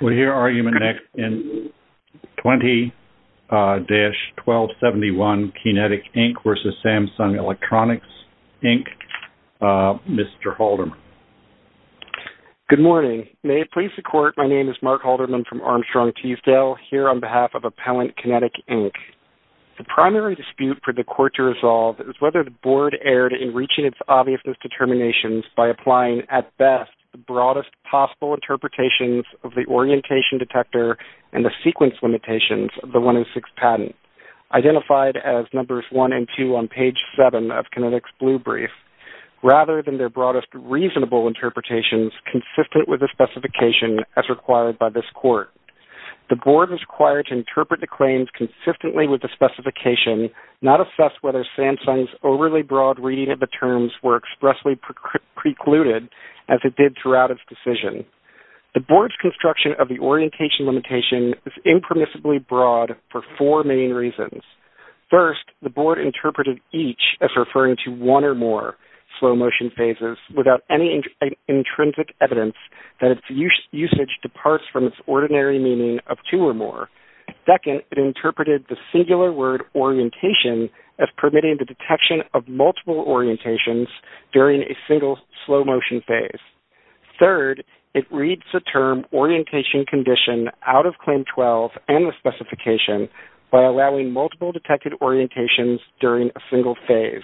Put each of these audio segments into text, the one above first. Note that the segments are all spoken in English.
We'll hear argument next in 20-1271, KEYnetik, Inc. v. Samsung Electronics, Inc., Mr. Halderman. Good morning. May it please the Court, my name is Mark Halderman from Armstrong Teasdale, here on behalf of Appellant KEYnetik, Inc. The primary dispute for the Court to resolve is whether the Board erred in reaching its obviousness determinations by applying, at best, the broadest possible interpretations of the orientation detector and the sequence limitations of the 1 in 6 patent, identified as numbers 1 and 2 on page 7 of KEYNETIK's blue brief, rather than their broadest reasonable interpretations consistent with the specification as required by this Court. The Board is required to interpret the claims consistently with the specification, not assess whether Samsung's overly broad reading of the terms were expressly precluded as it did throughout its decision. The Board's construction of the orientation limitation is impermissibly broad for four main reasons. First, the Board interpreted each as referring to one or more slow motion phases without any intrinsic evidence that its usage departs from its ordinary meaning of two or more. Second, it interpreted the singular word orientation as permitting the detection of multiple orientations during a single slow motion phase. Third, it reads the term orientation condition out of Claim 12 and the specification by allowing multiple detected orientations during a single phase.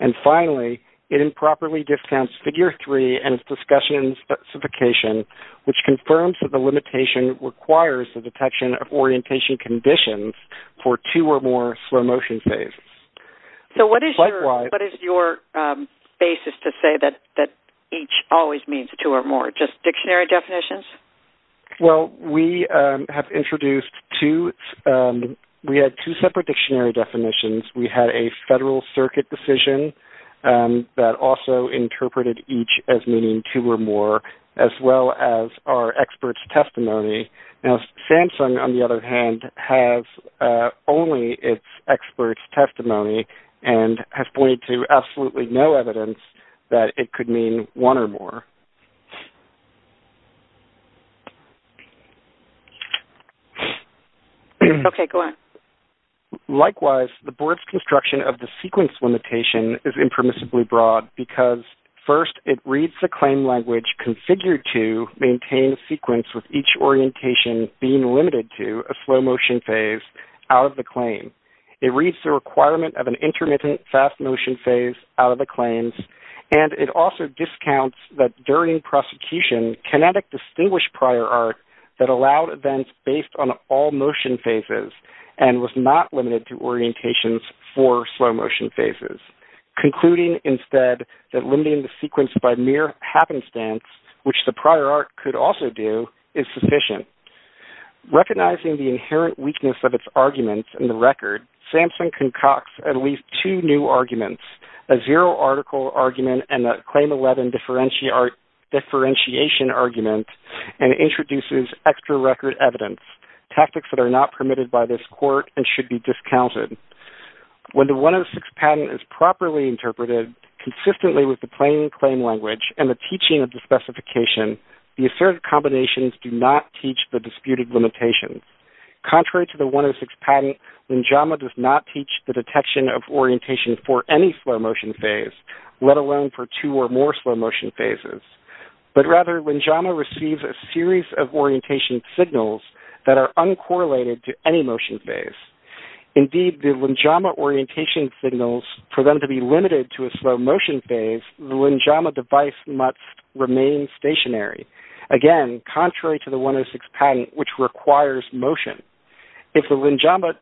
And finally, it improperly discounts Figure 3 and its discussion specification, which confirms that the limitation requires the detection of orientation conditions for two or more slow motion phases. So what is your basis to say that each always means two or more? Just dictionary definitions? Well, we have introduced two. We had two separate dictionary definitions. We had a Federal Circuit decision that also interpreted each as meaning two or more, as well as our experts' testimony. Now Samsung, on the other hand, has only its experts' testimony and has pointed to absolutely no evidence that it could mean one or more. Okay, go ahead. Likewise, the Board's construction of the sequence limitation is impermissibly broad because, first, it reads the claim language configured to maintain a sequence with each orientation being limited to a slow motion phase out of the claim. It reads the requirement of an intermittent fast motion phase out of the claims, and it also discounts that during prosecution, Kinetic distinguished prior art that allowed events based on all motion phases and was not limited to orientations for slow motion phases, concluding instead that limiting the sequence by mere happenstance, which the prior art could also do, is sufficient. Recognizing the inherent weakness of its arguments in the record, Samsung concocts at least two new arguments, a zero article argument and a claim 11 differentiation argument, and introduces extra record evidence, tactics that are not permitted by this court and should be discounted. When the 106 patent is properly interpreted, consistently with the plain claim language and the teaching of the specification, the asserted combinations do not teach the disputed limitations. Contrary to the 106 patent, Linjama does not teach the detection of orientation for any slow motion phase, let alone for two or more slow motion phases. But rather, Linjama receives a series of orientation signals that are uncorrelated to any motion phase. Indeed, the Linjama orientation signals, for them to be limited to a slow motion phase, the Linjama device must remain stationary. Again, contrary to the 106 patent, which requires motion, if the Linjama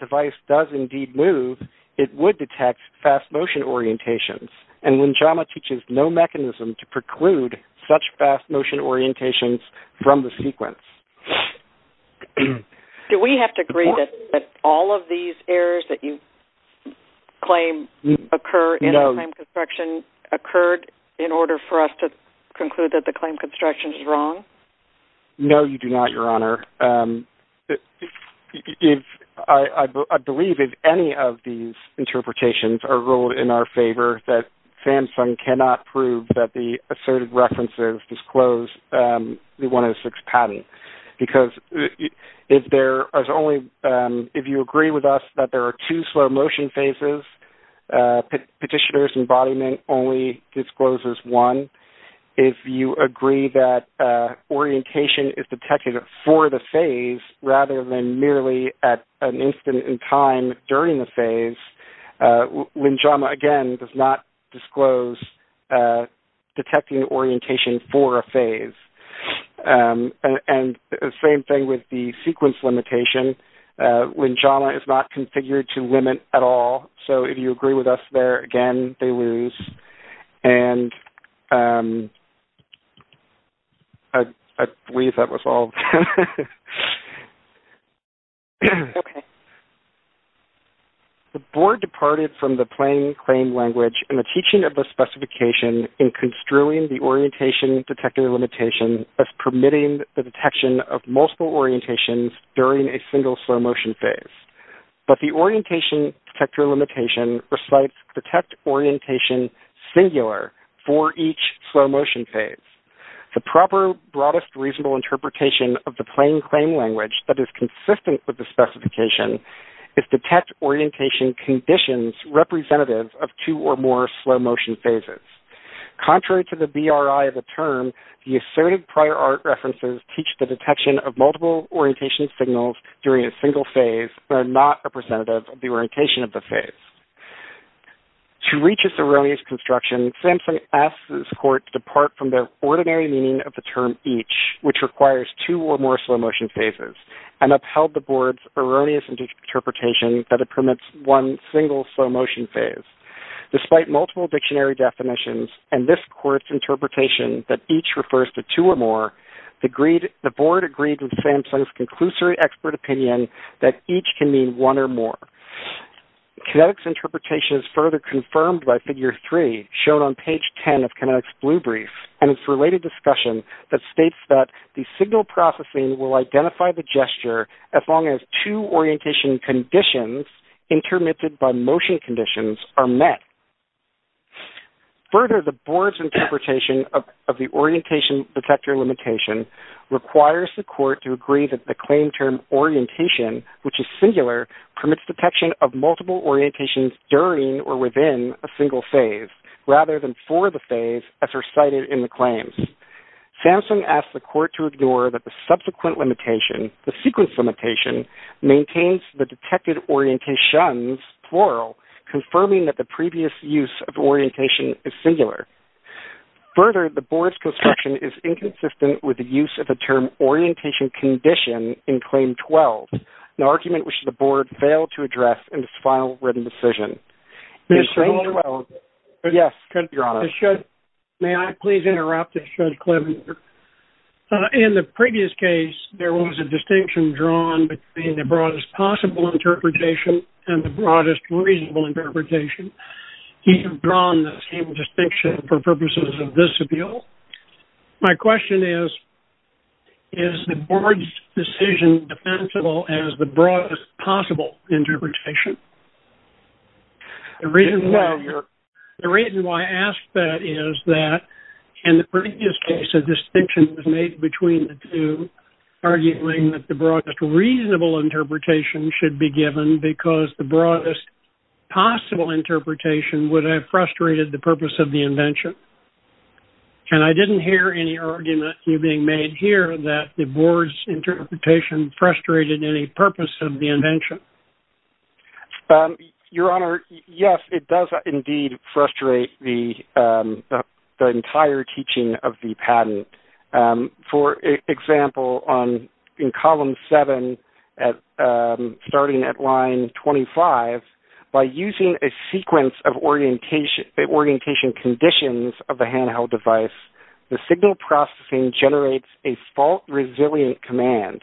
device does indeed move, it would detect fast motion orientations, and Linjama teaches no mechanism to preclude such fast motion orientations from the sequence. Do we have to agree that all of these errors that you claim occur in the claim construction occurred in order for us to conclude that the claim construction is wrong? No, you do not, Your Honor. I believe if any of these interpretations are ruled in our favor, that SAMHSA cannot prove that the asserted references disclose the 106 patent. Because if you agree with us that there are two slow motion phases, petitioner's embodiment only discloses one. If you agree that orientation is detected for the phase, rather than merely at an instant in time during the phase, Linjama, again, does not disclose detecting orientation for a phase. And the same thing with the sequence limitation. Linjama is not configured to limit at all, so if you agree with us there, again, they lose. I believe that was all. The Board departed from the plain claim language and the teaching of the specification in construing the orientation detector limitation as permitting the detection of multiple orientations during a single slow motion phase. But the orientation detector limitation recites detect orientation singular for each slow motion phase. The proper, broadest, reasonable interpretation of the plain claim language that is consistent with the specification is detect orientation conditions representative of two or more slow motion phases. Contrary to the BRI of the term, the assertive prior art references teach the detection of multiple orientation signals during a single phase are not representative of the orientation of the phase. To reach its erroneous construction, Samson asks the Court to depart from the ordinary meaning of the term each, which requires two or more slow motion phases, and upheld the Board's erroneous interpretation that it permits one single slow motion phase. Despite multiple dictionary definitions and this Court's interpretation that each refers to two or more, the Board agreed with Samson's conclusory expert opinion that each can mean one or more. Kinetic's interpretation is further confirmed by Figure 3, shown on page 10 of Kinetic's Blue Brief, and its related discussion that states that the signal processing will identify the gesture as long as two orientation conditions intermitted by motion conditions are met. Further, the Board's interpretation of the orientation detector limitation requires the Court to agree that the claim term orientation, which is singular, permits detection of multiple orientations during or within a single phase, rather than for the phase as recited in the claims. Samson asks the Court to ignore that the subsequent limitation, the sequence limitation, maintains the detected orientations, plural, confirming that the previous use of orientation is singular. Further, the Board's construction is inconsistent with the use of the term orientation condition in Claim 12, an argument which the Board failed to address in its final written decision. In Claim 12- Mr. Holder? Yes, Your Honor. May I please interrupt? In the previous case, there was a distinction drawn between the broadest possible interpretation and the broadest reasonable interpretation. You have drawn the same distinction for purposes of this appeal. My question is, is the Board's decision defensible as the broadest possible interpretation? The reason why I ask that is that in the previous case, a distinction was made between the two, arguing that the broadest reasonable interpretation should be given because the broadest possible interpretation would have frustrated the purpose of the invention. And I didn't hear any argument being made here that the Board's interpretation frustrated any purpose of the invention. Your Honor, yes, it does indeed frustrate the entire teaching of the patent. For example, in Column 7, starting at Line 25, by using a sequence of orientation conditions of a handheld device, the signal processing generates a fault-resilient command,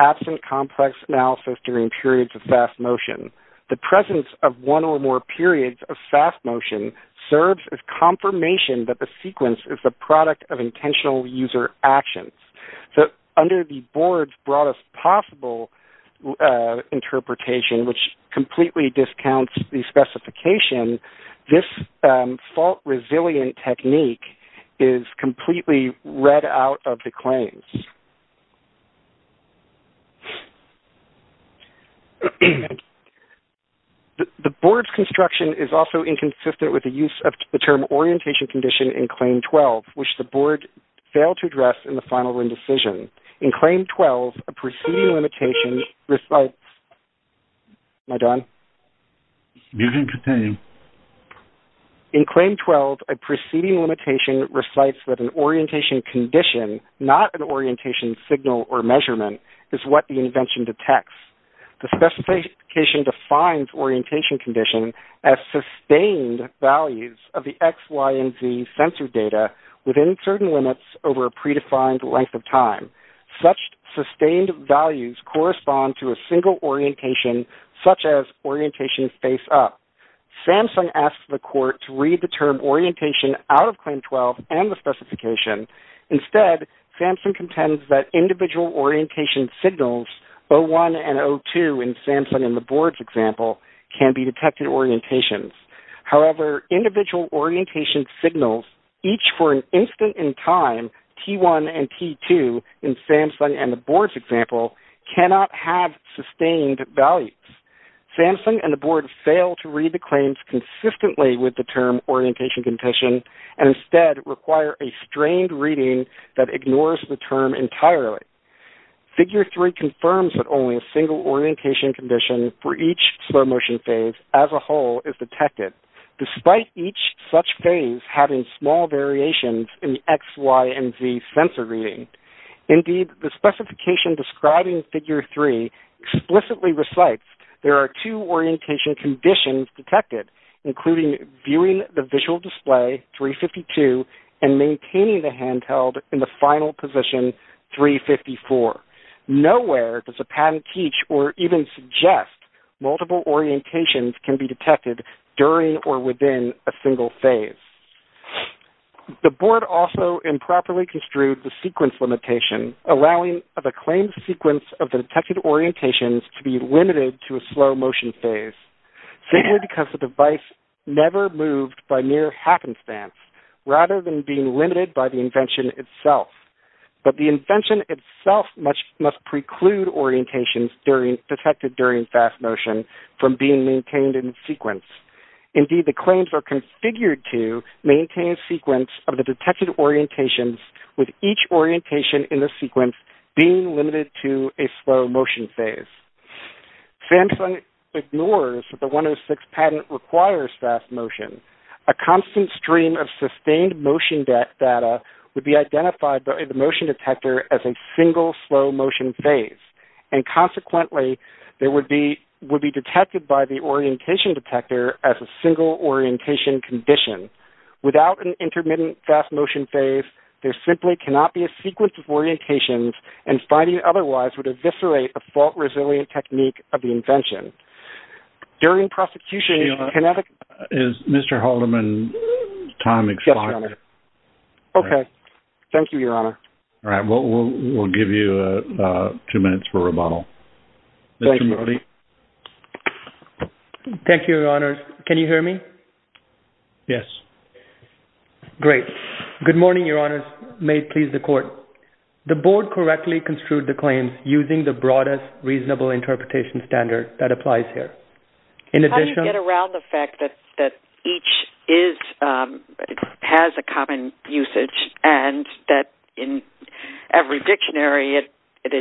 absent complex analysis during periods of fast motion. The presence of one or more periods of fast motion serves as confirmation that the sequence is the product of intentional user actions. So under the Board's broadest possible interpretation, which completely discounts the specification, this fault-resilient technique is completely read out of the claims. Thank you. The Board's construction is also inconsistent with the use of the term orientation condition in Claim 12, which the Board failed to address in the final decision. In Claim 12, a preceding limitation recites that an orientation condition, not an orientation signal or measurement, is what the invention detects. The specification defines orientation condition as sustained values of the X, Y, and Z sensor data within certain limits over a predefined length of time. Such sustained values correspond to a single orientation, such as orientation face up. Samsung asked the Court to read the term orientation out of Claim 12 and the specification. Instead, Samsung contends that individual orientation signals, O1 and O2 in Samsung and the Board's example, can be detected orientations. However, individual orientation signals, each for an instant in time, T1 and T2 in Samsung and the Board's example, cannot have sustained values. Samsung and the Board failed to read the claims consistently with the term and instead require a strained reading that ignores the term entirely. Figure 3 confirms that only a single orientation condition for each slow motion phase as a whole is detected, despite each such phase having small variations in the X, Y, and Z sensor reading. Indeed, the specification describing Figure 3 explicitly recites there are two multiple orientation conditions detected, including viewing the visual display, 352, and maintaining the handheld in the final position, 354. Nowhere does a patent teach or even suggest multiple orientations can be detected during or within a single phase. The Board also improperly construed the sequence limitation, allowing the claimed sequence of the detected orientations to be limited to a slow motion phase, simply because the device never moved by mere happenstance, rather than being limited by the invention itself. But the invention itself must preclude orientations detected during fast motion from being maintained in sequence. Indeed, the claims are configured to maintain a sequence of the detected orientations with each orientation in the sequence being limited to a slow motion phase. Samsung ignores that the 106 patent requires fast motion. A constant stream of sustained motion data would be identified by the motion detector as a single slow motion phase, and consequently would be detected by the orientation detector as a single orientation condition. Without an intermittent fast motion phase, there simply cannot be a sequence of orientations, and finding it otherwise would eviscerate a fault-resilient technique of the invention. During prosecution... Is Mr. Haldeman's time expired? Yes, Your Honor. Okay. Thank you, Your Honor. All right. We'll give you two minutes for rebuttal. Thank you, Your Honors. Can you hear me? Yes. Great. Good morning, Your Honors. May it please the Court. The Board correctly construed the claims using the broadest reasonable interpretation standard that applies here. How do you get around the fact that each has a common usage, and that in every dictionary it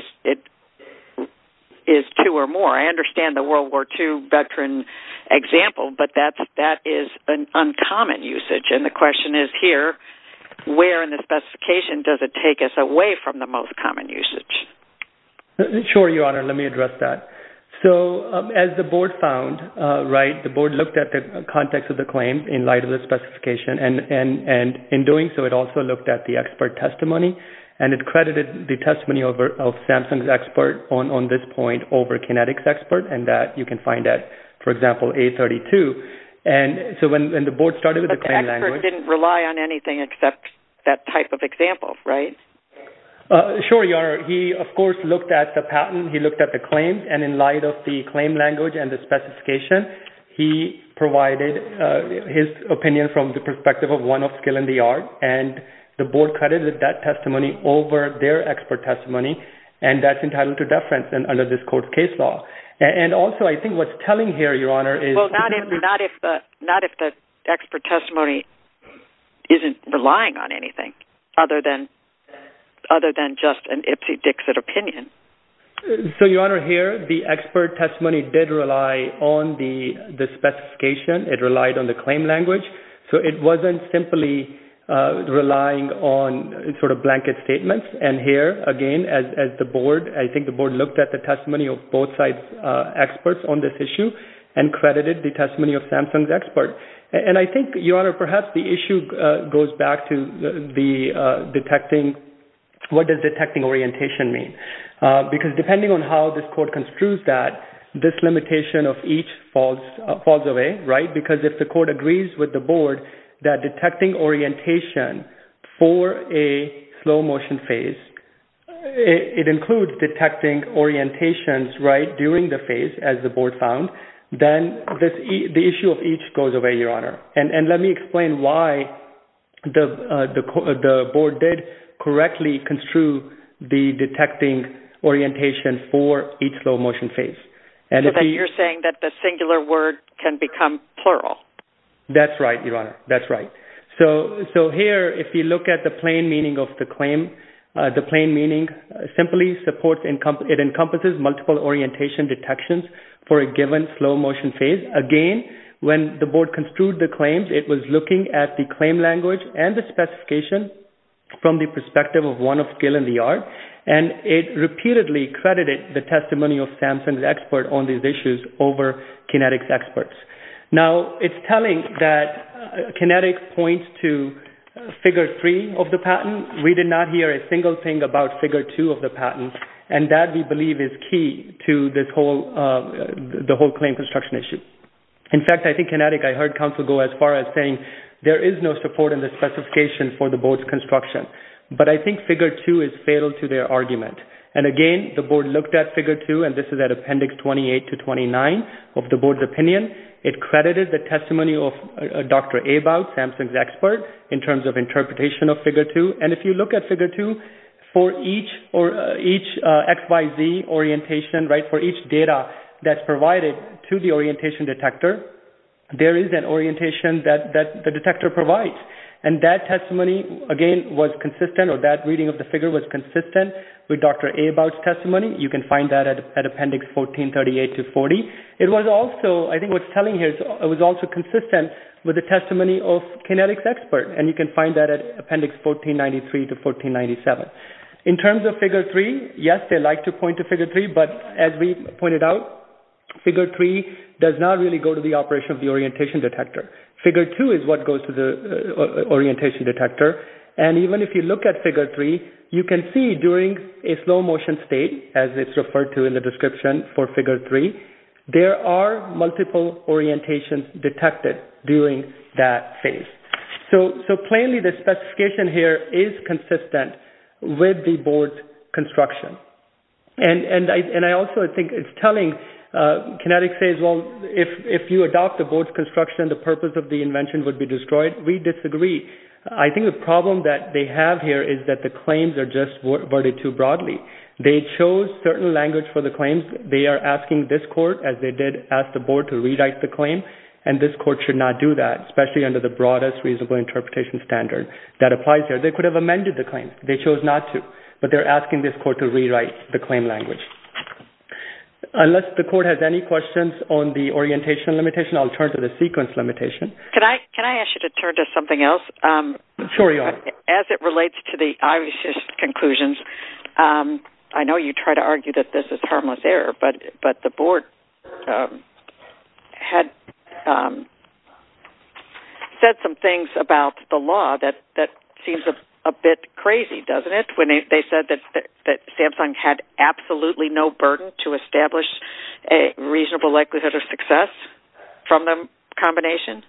is two or more? I understand the World War II veteran example, but that is an uncommon usage. The question is here, where in the specification does it take us away from the most common usage? Sure, Your Honor. Let me address that. As the Board found, right, the Board looked at the context of the claim in light of the specification. In doing so, it also looked at the expert testimony, and it credited the testimony of Samsung's expert on this point over Kinetic's expert, and that you can find at, for example, A32. But the expert didn't rely on anything except that type of example, right? Sure, Your Honor. He, of course, looked at the patent. He looked at the claim, and in light of the claim language and the specification, he provided his opinion from the perspective of one of skill and the art, and the Board credited that testimony over their expert testimony, and that's entitled to deference under this Court's case law. And also, I think what's telling here, Your Honor, is the person who testified, not if the expert testimony isn't relying on anything other than just an Ipsy-Dixit opinion. So, Your Honor, here the expert testimony did rely on the specification. It relied on the claim language. So it wasn't simply relying on sort of blanket statements. And here, again, as the Board, I think the Board looked at the And I think, Your Honor, perhaps the issue goes back to the detecting, what does detecting orientation mean? Because depending on how this Court construes that, this limitation of each falls away, right? Because if the Court agrees with the Board that detecting orientation for a slow motion phase, it includes detecting orientations, right, during the phase, as the Board found, then the issue of each goes away, Your Honor. And let me explain why the Board did correctly construe the detecting orientation for each slow motion phase. So then you're saying that the singular word can become plural. That's right, Your Honor. That's right. So here, if you look at the plain meaning of the claim, the plain meaning simply supports, it encompasses multiple orientation detections for a given slow motion phase. Again, when the Board construed the claims, it was looking at the claim language and the specification from the perspective of one of Gill and Liard, and it repeatedly credited the testimony of Samson, the expert, on these issues over Kinetic's experts. Now, it's telling that Kinetic points to figure three of the patent. We did not hear a single thing about figure two of the patent, and that we believe is key to the whole claim construction issue. In fact, I think Kinetic, I heard counsel go as far as saying there is no support in the specification for the Board's construction, but I think figure two is fatal to their argument. And again, the Board looked at figure two, and this is at Appendix 28 to 29 of the Board's opinion. It credited the testimony of Dr. Abowd, Samson's expert, in terms of interpretation of figure two. And if you look at figure two, for each XYZ orientation, right, for each data that's provided to the orientation detector, there is an orientation that the detector provides. And that testimony, again, was consistent, or that reading of the figure was consistent with Dr. Abowd's testimony. You can find that at Appendix 1438 to 40. It was also, I think what it's telling here, it was also consistent with the testimony of Kinetic's expert, and you can find that at Appendix 1493 to 1497. In terms of figure three, yes, they like to point to figure three, but as we pointed out, figure three does not really go to the operation of the orientation detector. Figure two is what goes to the orientation detector. And even if you look at figure three, you can see during a slow-motion state, as it's referred to in the description for figure three, there are multiple orientations detected during that phase. So, plainly, the specification here is consistent with the board's construction. And I also think it's telling, Kinetic says, well, if you adopt the board's construction, the purpose of the invention would be destroyed. We disagree. I think the problem that they have here is that the claims are just worded too broadly. They chose certain language for the claims. They are asking this court, as they did ask the board, to rewrite the claim, and this court should not do that, especially under the broadest reasonable interpretation standard that applies here. They could have amended the claim. They chose not to. But they're asking this court to rewrite the claim language. Unless the court has any questions on the orientation limitation, I'll turn to the sequence limitation. Can I ask you to turn to something else? Sure, you are. As it relates to the obvious conclusions, I know you try to argue that this is harmless error, but the board had said some things about the law that seems a bit crazy, doesn't it, when they said that Samsung had absolutely no burden to establish a reasonable likelihood of success from the combination?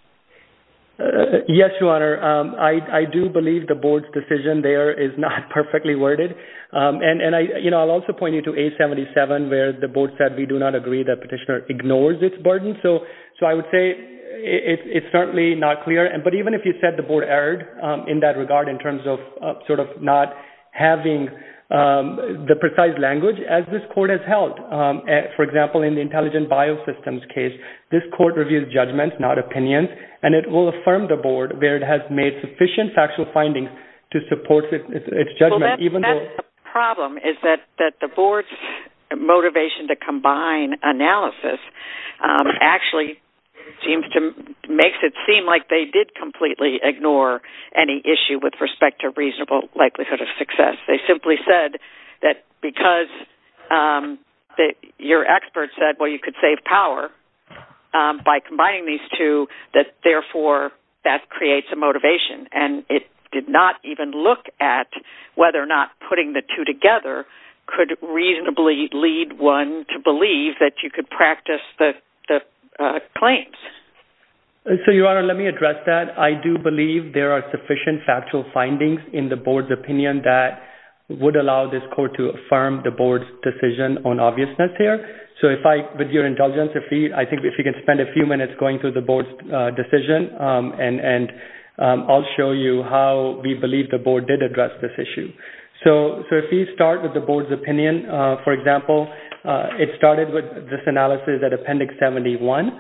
Yes, Your Honor. I do believe the board's decision there is not perfectly worded. And I'll also point you to A-77, where the board said we do not agree that petitioner ignores its burden. So I would say it's certainly not clear. But even if you said the board erred in that regard in terms of not having the precise language, as this court has held, for example, in the Intelligent Biosystems case, this court reviews judgments, not opinions, and it will affirm the board where it has made sufficient factual findings to support its judgment. Well, that's the problem, is that the board's motivation to combine analysis actually makes it seem like they did completely ignore any issue with respect to reasonable likelihood of success. They simply said that because your expert said, well, you could save power by combining these two, that therefore that creates a motivation. And it did not even look at whether or not putting the two together could reasonably lead one to believe that you could practice the claims. So, Your Honor, let me address that. I do believe there are sufficient factual findings in the board's opinion that would allow this court to affirm the board's decision on obviousness here. So if I, with your indulgence, if we can spend a few minutes going through the board's decision, and I'll show you how we believe the board did address this issue. So if we start with the board's opinion, for example, it started with this analysis at Appendix 71.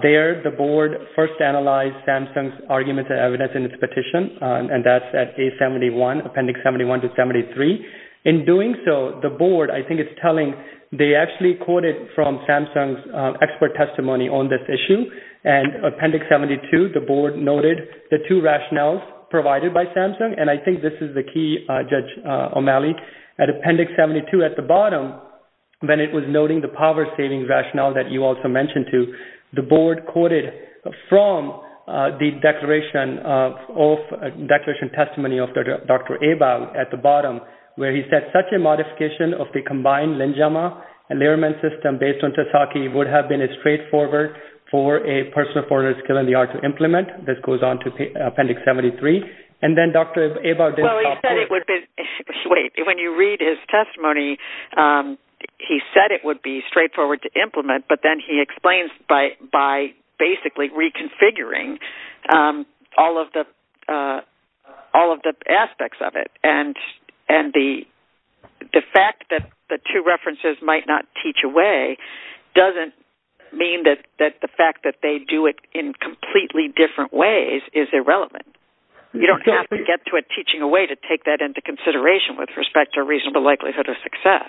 There, the board first analyzed Samsung's arguments and evidence in its petition, and that's at A71, Appendix 71 to 73. In doing so, the board, I think it's telling, they actually quoted from Samsung's expert testimony on this issue. And Appendix 72, the board noted the two rationales provided by Samsung, and I think this is the key, Judge O'Malley, at Appendix 72 at the bottom, when it was noting the power-saving rationale that you also mentioned to, the board quoted from the declaration of, declaration testimony of Dr. Ebal at the bottom, where he said, such a modification of the combined Linjama and Lierman system based on Tesaki would have been as straightforward for a person with a four-letter skill in the art to implement. This goes on to Appendix 73. And then Dr. Ebal did talk to… Well, he said it would be, wait, when you read his testimony, he said it would be straightforward to implement, but then he explains by basically reconfiguring all of the aspects of it. And the fact that the two references might not teach a way doesn't mean that the fact that they do it in completely different ways is irrelevant. You don't have to get to it teaching a way to take that into consideration with respect to a reasonable likelihood of success.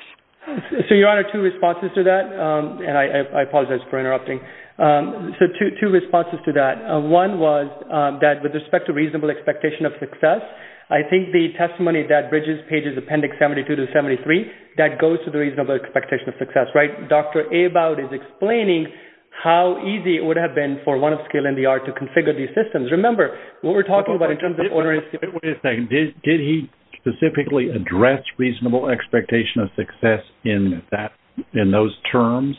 So, Your Honor, two responses to that. And I apologize for interrupting. So, two responses to that. One was that with respect to reasonable expectation of success, I think the testimony that bridges pages Appendix 72 to 73, that goes to the reasonable expectation of success, right? Dr. Ebal is explaining how easy it would have been for one of skill in the art to configure these systems. Remember, what we're talking about in terms of… Wait a second. Did he specifically address reasonable expectation of success in those terms?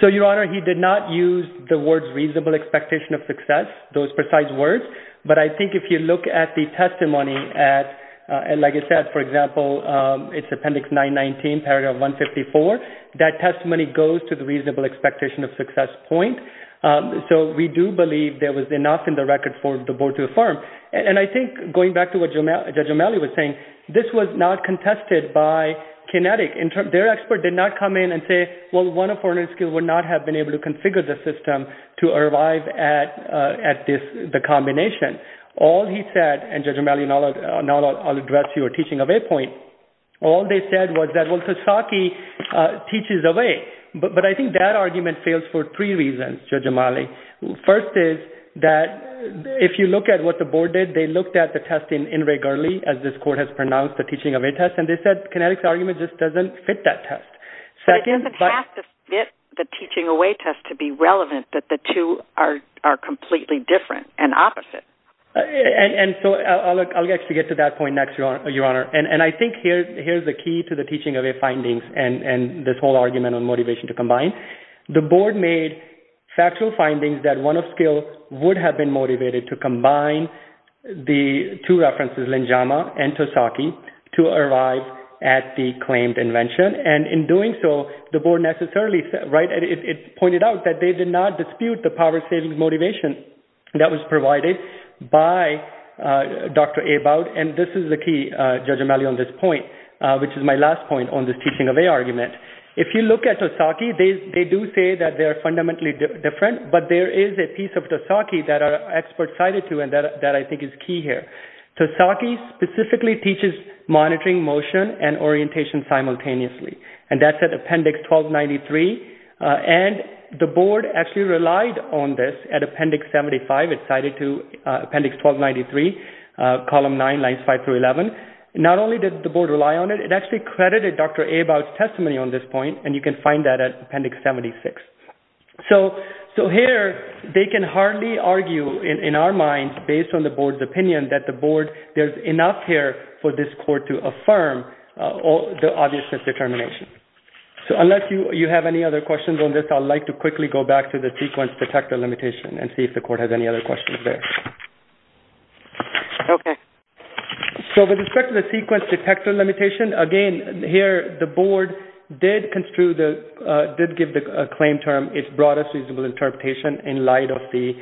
So, Your Honor, he did not use the words reasonable expectation of success, those precise words. But I think if you look at the testimony, like I said, for example, it's Appendix 919, Paragraph 154. That testimony goes to the reasonable expectation of success point. So, we do believe there was enough in the record for the Board to affirm. And I think going back to what Judge O'Malley was saying, this was not contested by Kinetic. Their expert did not come in and say, well, one of foreigners would not have been able to configure the system to arrive at the combination. All he said, and Judge O'Malley, now I'll address your teaching of a point. All they said was that, well, Sasaki teaches away. But I think that argument fails for three reasons, Judge O'Malley. First is that if you look at what the Board did, they looked at the testing in regularly, as this Court has pronounced the teaching of a test, and they said Kinetic's argument just doesn't fit that test. But it doesn't have to fit the teaching away test to be relevant that the two are completely different and opposite. And so, I'll actually get to that point next, Your Honor. And I think here's the key to the teaching of a findings and this whole argument on motivation to combine. The Board made factual findings that one of skill would have been motivated to combine the two references, Linjama and Sasaki, to arrive at the claimed invention. And in doing so, the Board necessarily pointed out that they did not dispute the power-saving motivation that was provided by Dr. Abowd. And this is the key, Judge O'Malley, on this point, which is my last point on this teaching of a argument. If you look at Sasaki, they do say that they are fundamentally different, but there is a piece of Sasaki that our experts cited to, and that I think is key here. Sasaki specifically teaches monitoring motion and orientation simultaneously, and that's at Appendix 1293. And the Board actually relied on this at Appendix 75. It's cited to Appendix 1293, Column 9, Lines 5 through 11. Not only did the Board rely on it, it actually credited Dr. Abowd's testimony on this point, and you can find that at Appendix 76. So here, they can hardly argue, in our minds, based on the Board's opinion, that the Board, there's enough here for this court to affirm the obviousness determination. So, unless you have any other questions on this, I'd like to quickly go back to the sequence detector limitation and see if the court has any other questions there. Okay. So, with respect to the sequence detector limitation, again, here, the Board did give the claim term its broadest reasonable interpretation in light of the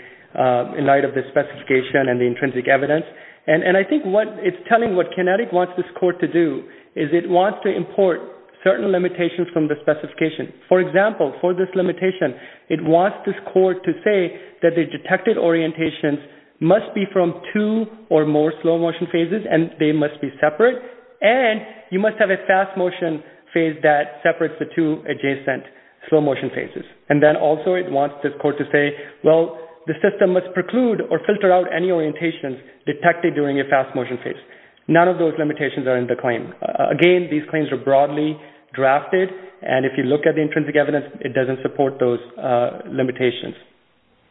specification and the intrinsic evidence. And I think it's telling what Kinetic wants this court to do, is it wants to import certain limitations from the specification. For example, for this limitation, it wants this court to say that the detected orientations must be from two or more slow-motion phases, and they must be separate, and you must have a fast-motion phase that separates the two adjacent slow-motion phases. And then, also, it wants this court to say, well, the system must preclude or filter out any orientations detected during a fast-motion phase. None of those limitations are in the claim. Again, these claims are broadly drafted, and if you look at the intrinsic evidence, it doesn't support those limitations.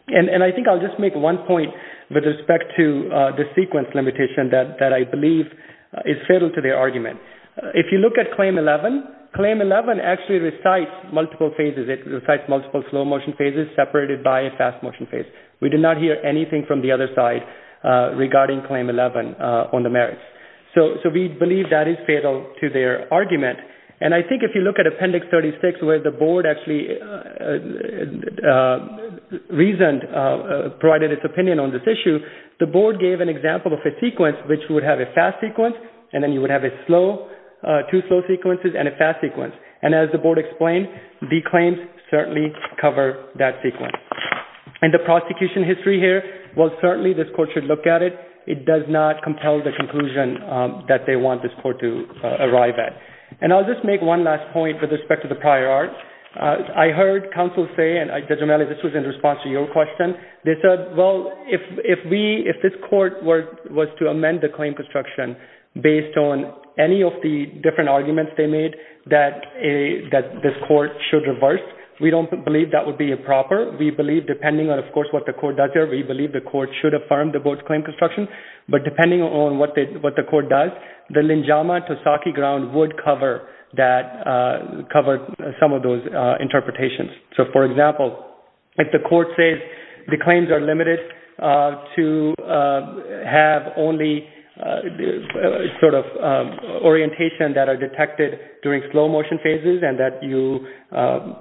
And I think I'll just make one point with respect to the sequence limitation that I believe is fatal to the argument. If you look at Claim 11, Claim 11 actually recites multiple phases. It recites multiple slow-motion phases separated by a fast-motion phase. We did not hear anything from the other side regarding Claim 11 on the merits. So we believe that is fatal to their argument. And I think if you look at Appendix 36, where the board actually reasoned, provided its opinion on this issue, the board gave an example of a sequence which would have a fast sequence, and then you would have two slow sequences and a fast sequence. And as the board explained, the claims certainly cover that sequence. And the prosecution history here, while certainly this court should look at it, it does not compel the conclusion that they want this court to arrive at. And I'll just make one last point with respect to the prior art. I heard counsel say, and Judge O'Malley, this was in response to your question, they said, well, if this court was to amend the claim construction based on any of the different arguments they made that this court should reverse, we don't believe that would be improper. We believe, depending on, of course, what the court does here, we believe the court should affirm the board's claim construction. But depending on what the court does, the Linjama-Tosaki ground would cover some of those interpretations. So, for example, if the court says the claims are limited to have only sort of orientation that are detected during slow motion phases and that you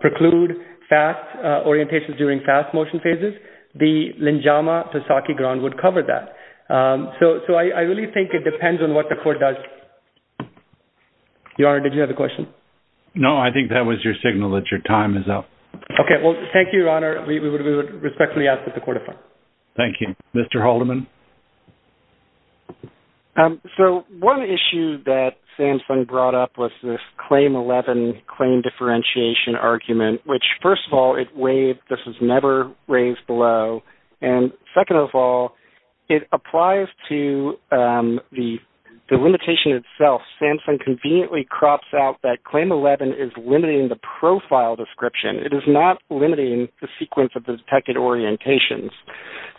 preclude fast orientations during fast motion phases, the Linjama-Tosaki ground would cover that. So I really think it depends on what the court does. Your Honour, did you have a question? No, I think that was your signal that your time is up. OK, well, thank you, Your Honour. We would respectfully ask that the court affirm. Thank you. Mr. Haldeman? So one issue that Samsung brought up was this Claim 11 claim differentiation argument, which, first of all, it waived. This was never raised below. And second of all, it applies to the limitation itself. Samsung conveniently crops out that Claim 11 is limiting the profile description. It is not limiting the sequence of the detected orientations.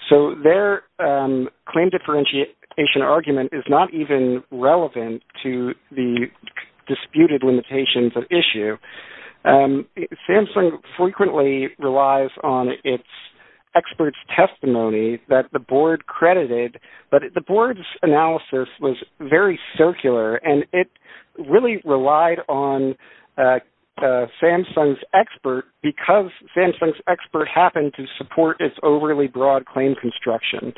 So their claim differentiation argument is not even relevant to the disputed limitations at issue. Samsung frequently relies on its experts' testimony that the board credited. But the board's analysis was very circular, and it really relied on Samsung's expert because Samsung's expert happened to support its overly broad claim construction.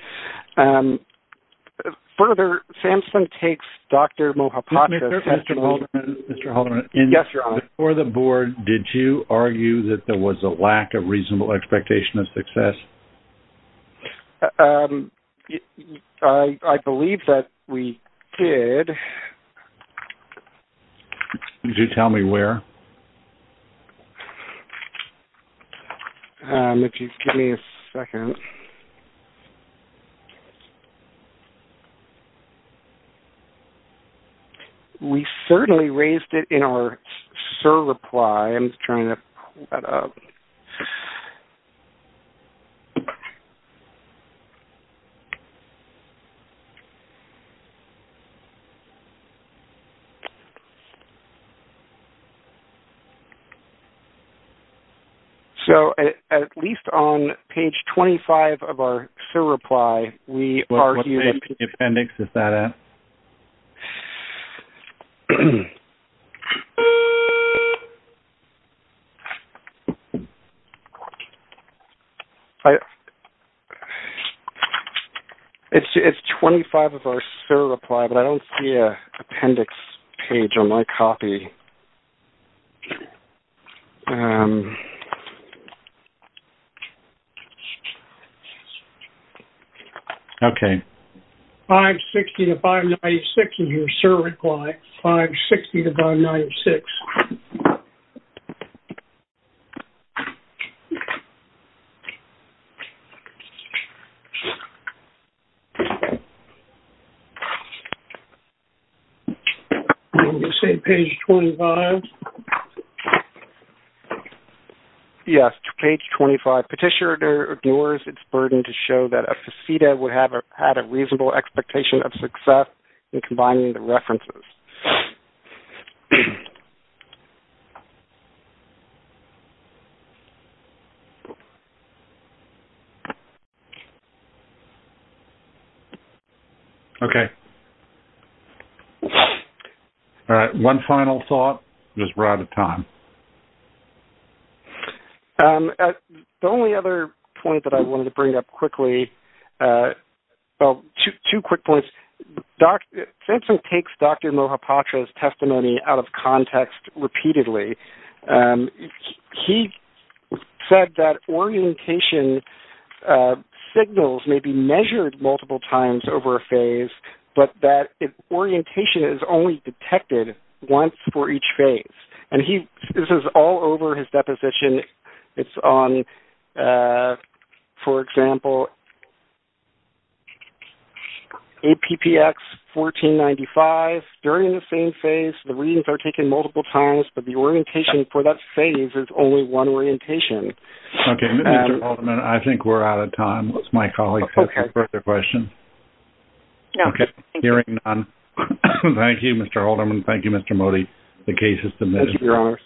Further, Samsung takes Dr. Mohapatra's testimony... Mr. Haldeman? Yes, Your Honour? Before the board, did you argue that there was a lack of reasonable expectation of success? I believe that we did. Okay. Could you tell me where? If you give me a second. We certainly raised it in our SIR reply. I'm just trying to pull that up. So at least on page 25 of our SIR reply, we argued... It's 25 of our SIR reply, but I don't see an appendix page on my copy. Okay. 560 to 596 in your SIR reply. 560 to 596. On the same page 25? Yes, page 25. Petitioner ignores its burden to show that a FACITA would have had a reasonable expectation of success in combining the references. Okay. All right. One final thought. We're out of time. Thank you. The only other point that I wanted to bring up quickly... Well, two quick points. SAMHSA takes Dr. Mohapatra's testimony out of context repeatedly. He said that orientation signals may be measured multiple times over a phase, but that orientation is only detected once for each phase. And this is all over his deposition. It's on, for example, APPX 1495. During the same phase, the readings are taken multiple times, but the orientation for that phase is only one orientation. Okay, Mr. Haldeman, I think we're out of time. My colleague has a further question. Okay. Hearing none, thank you, Mr. Haldeman. Thank you, Mr. Modi. Thank you, Your Honors.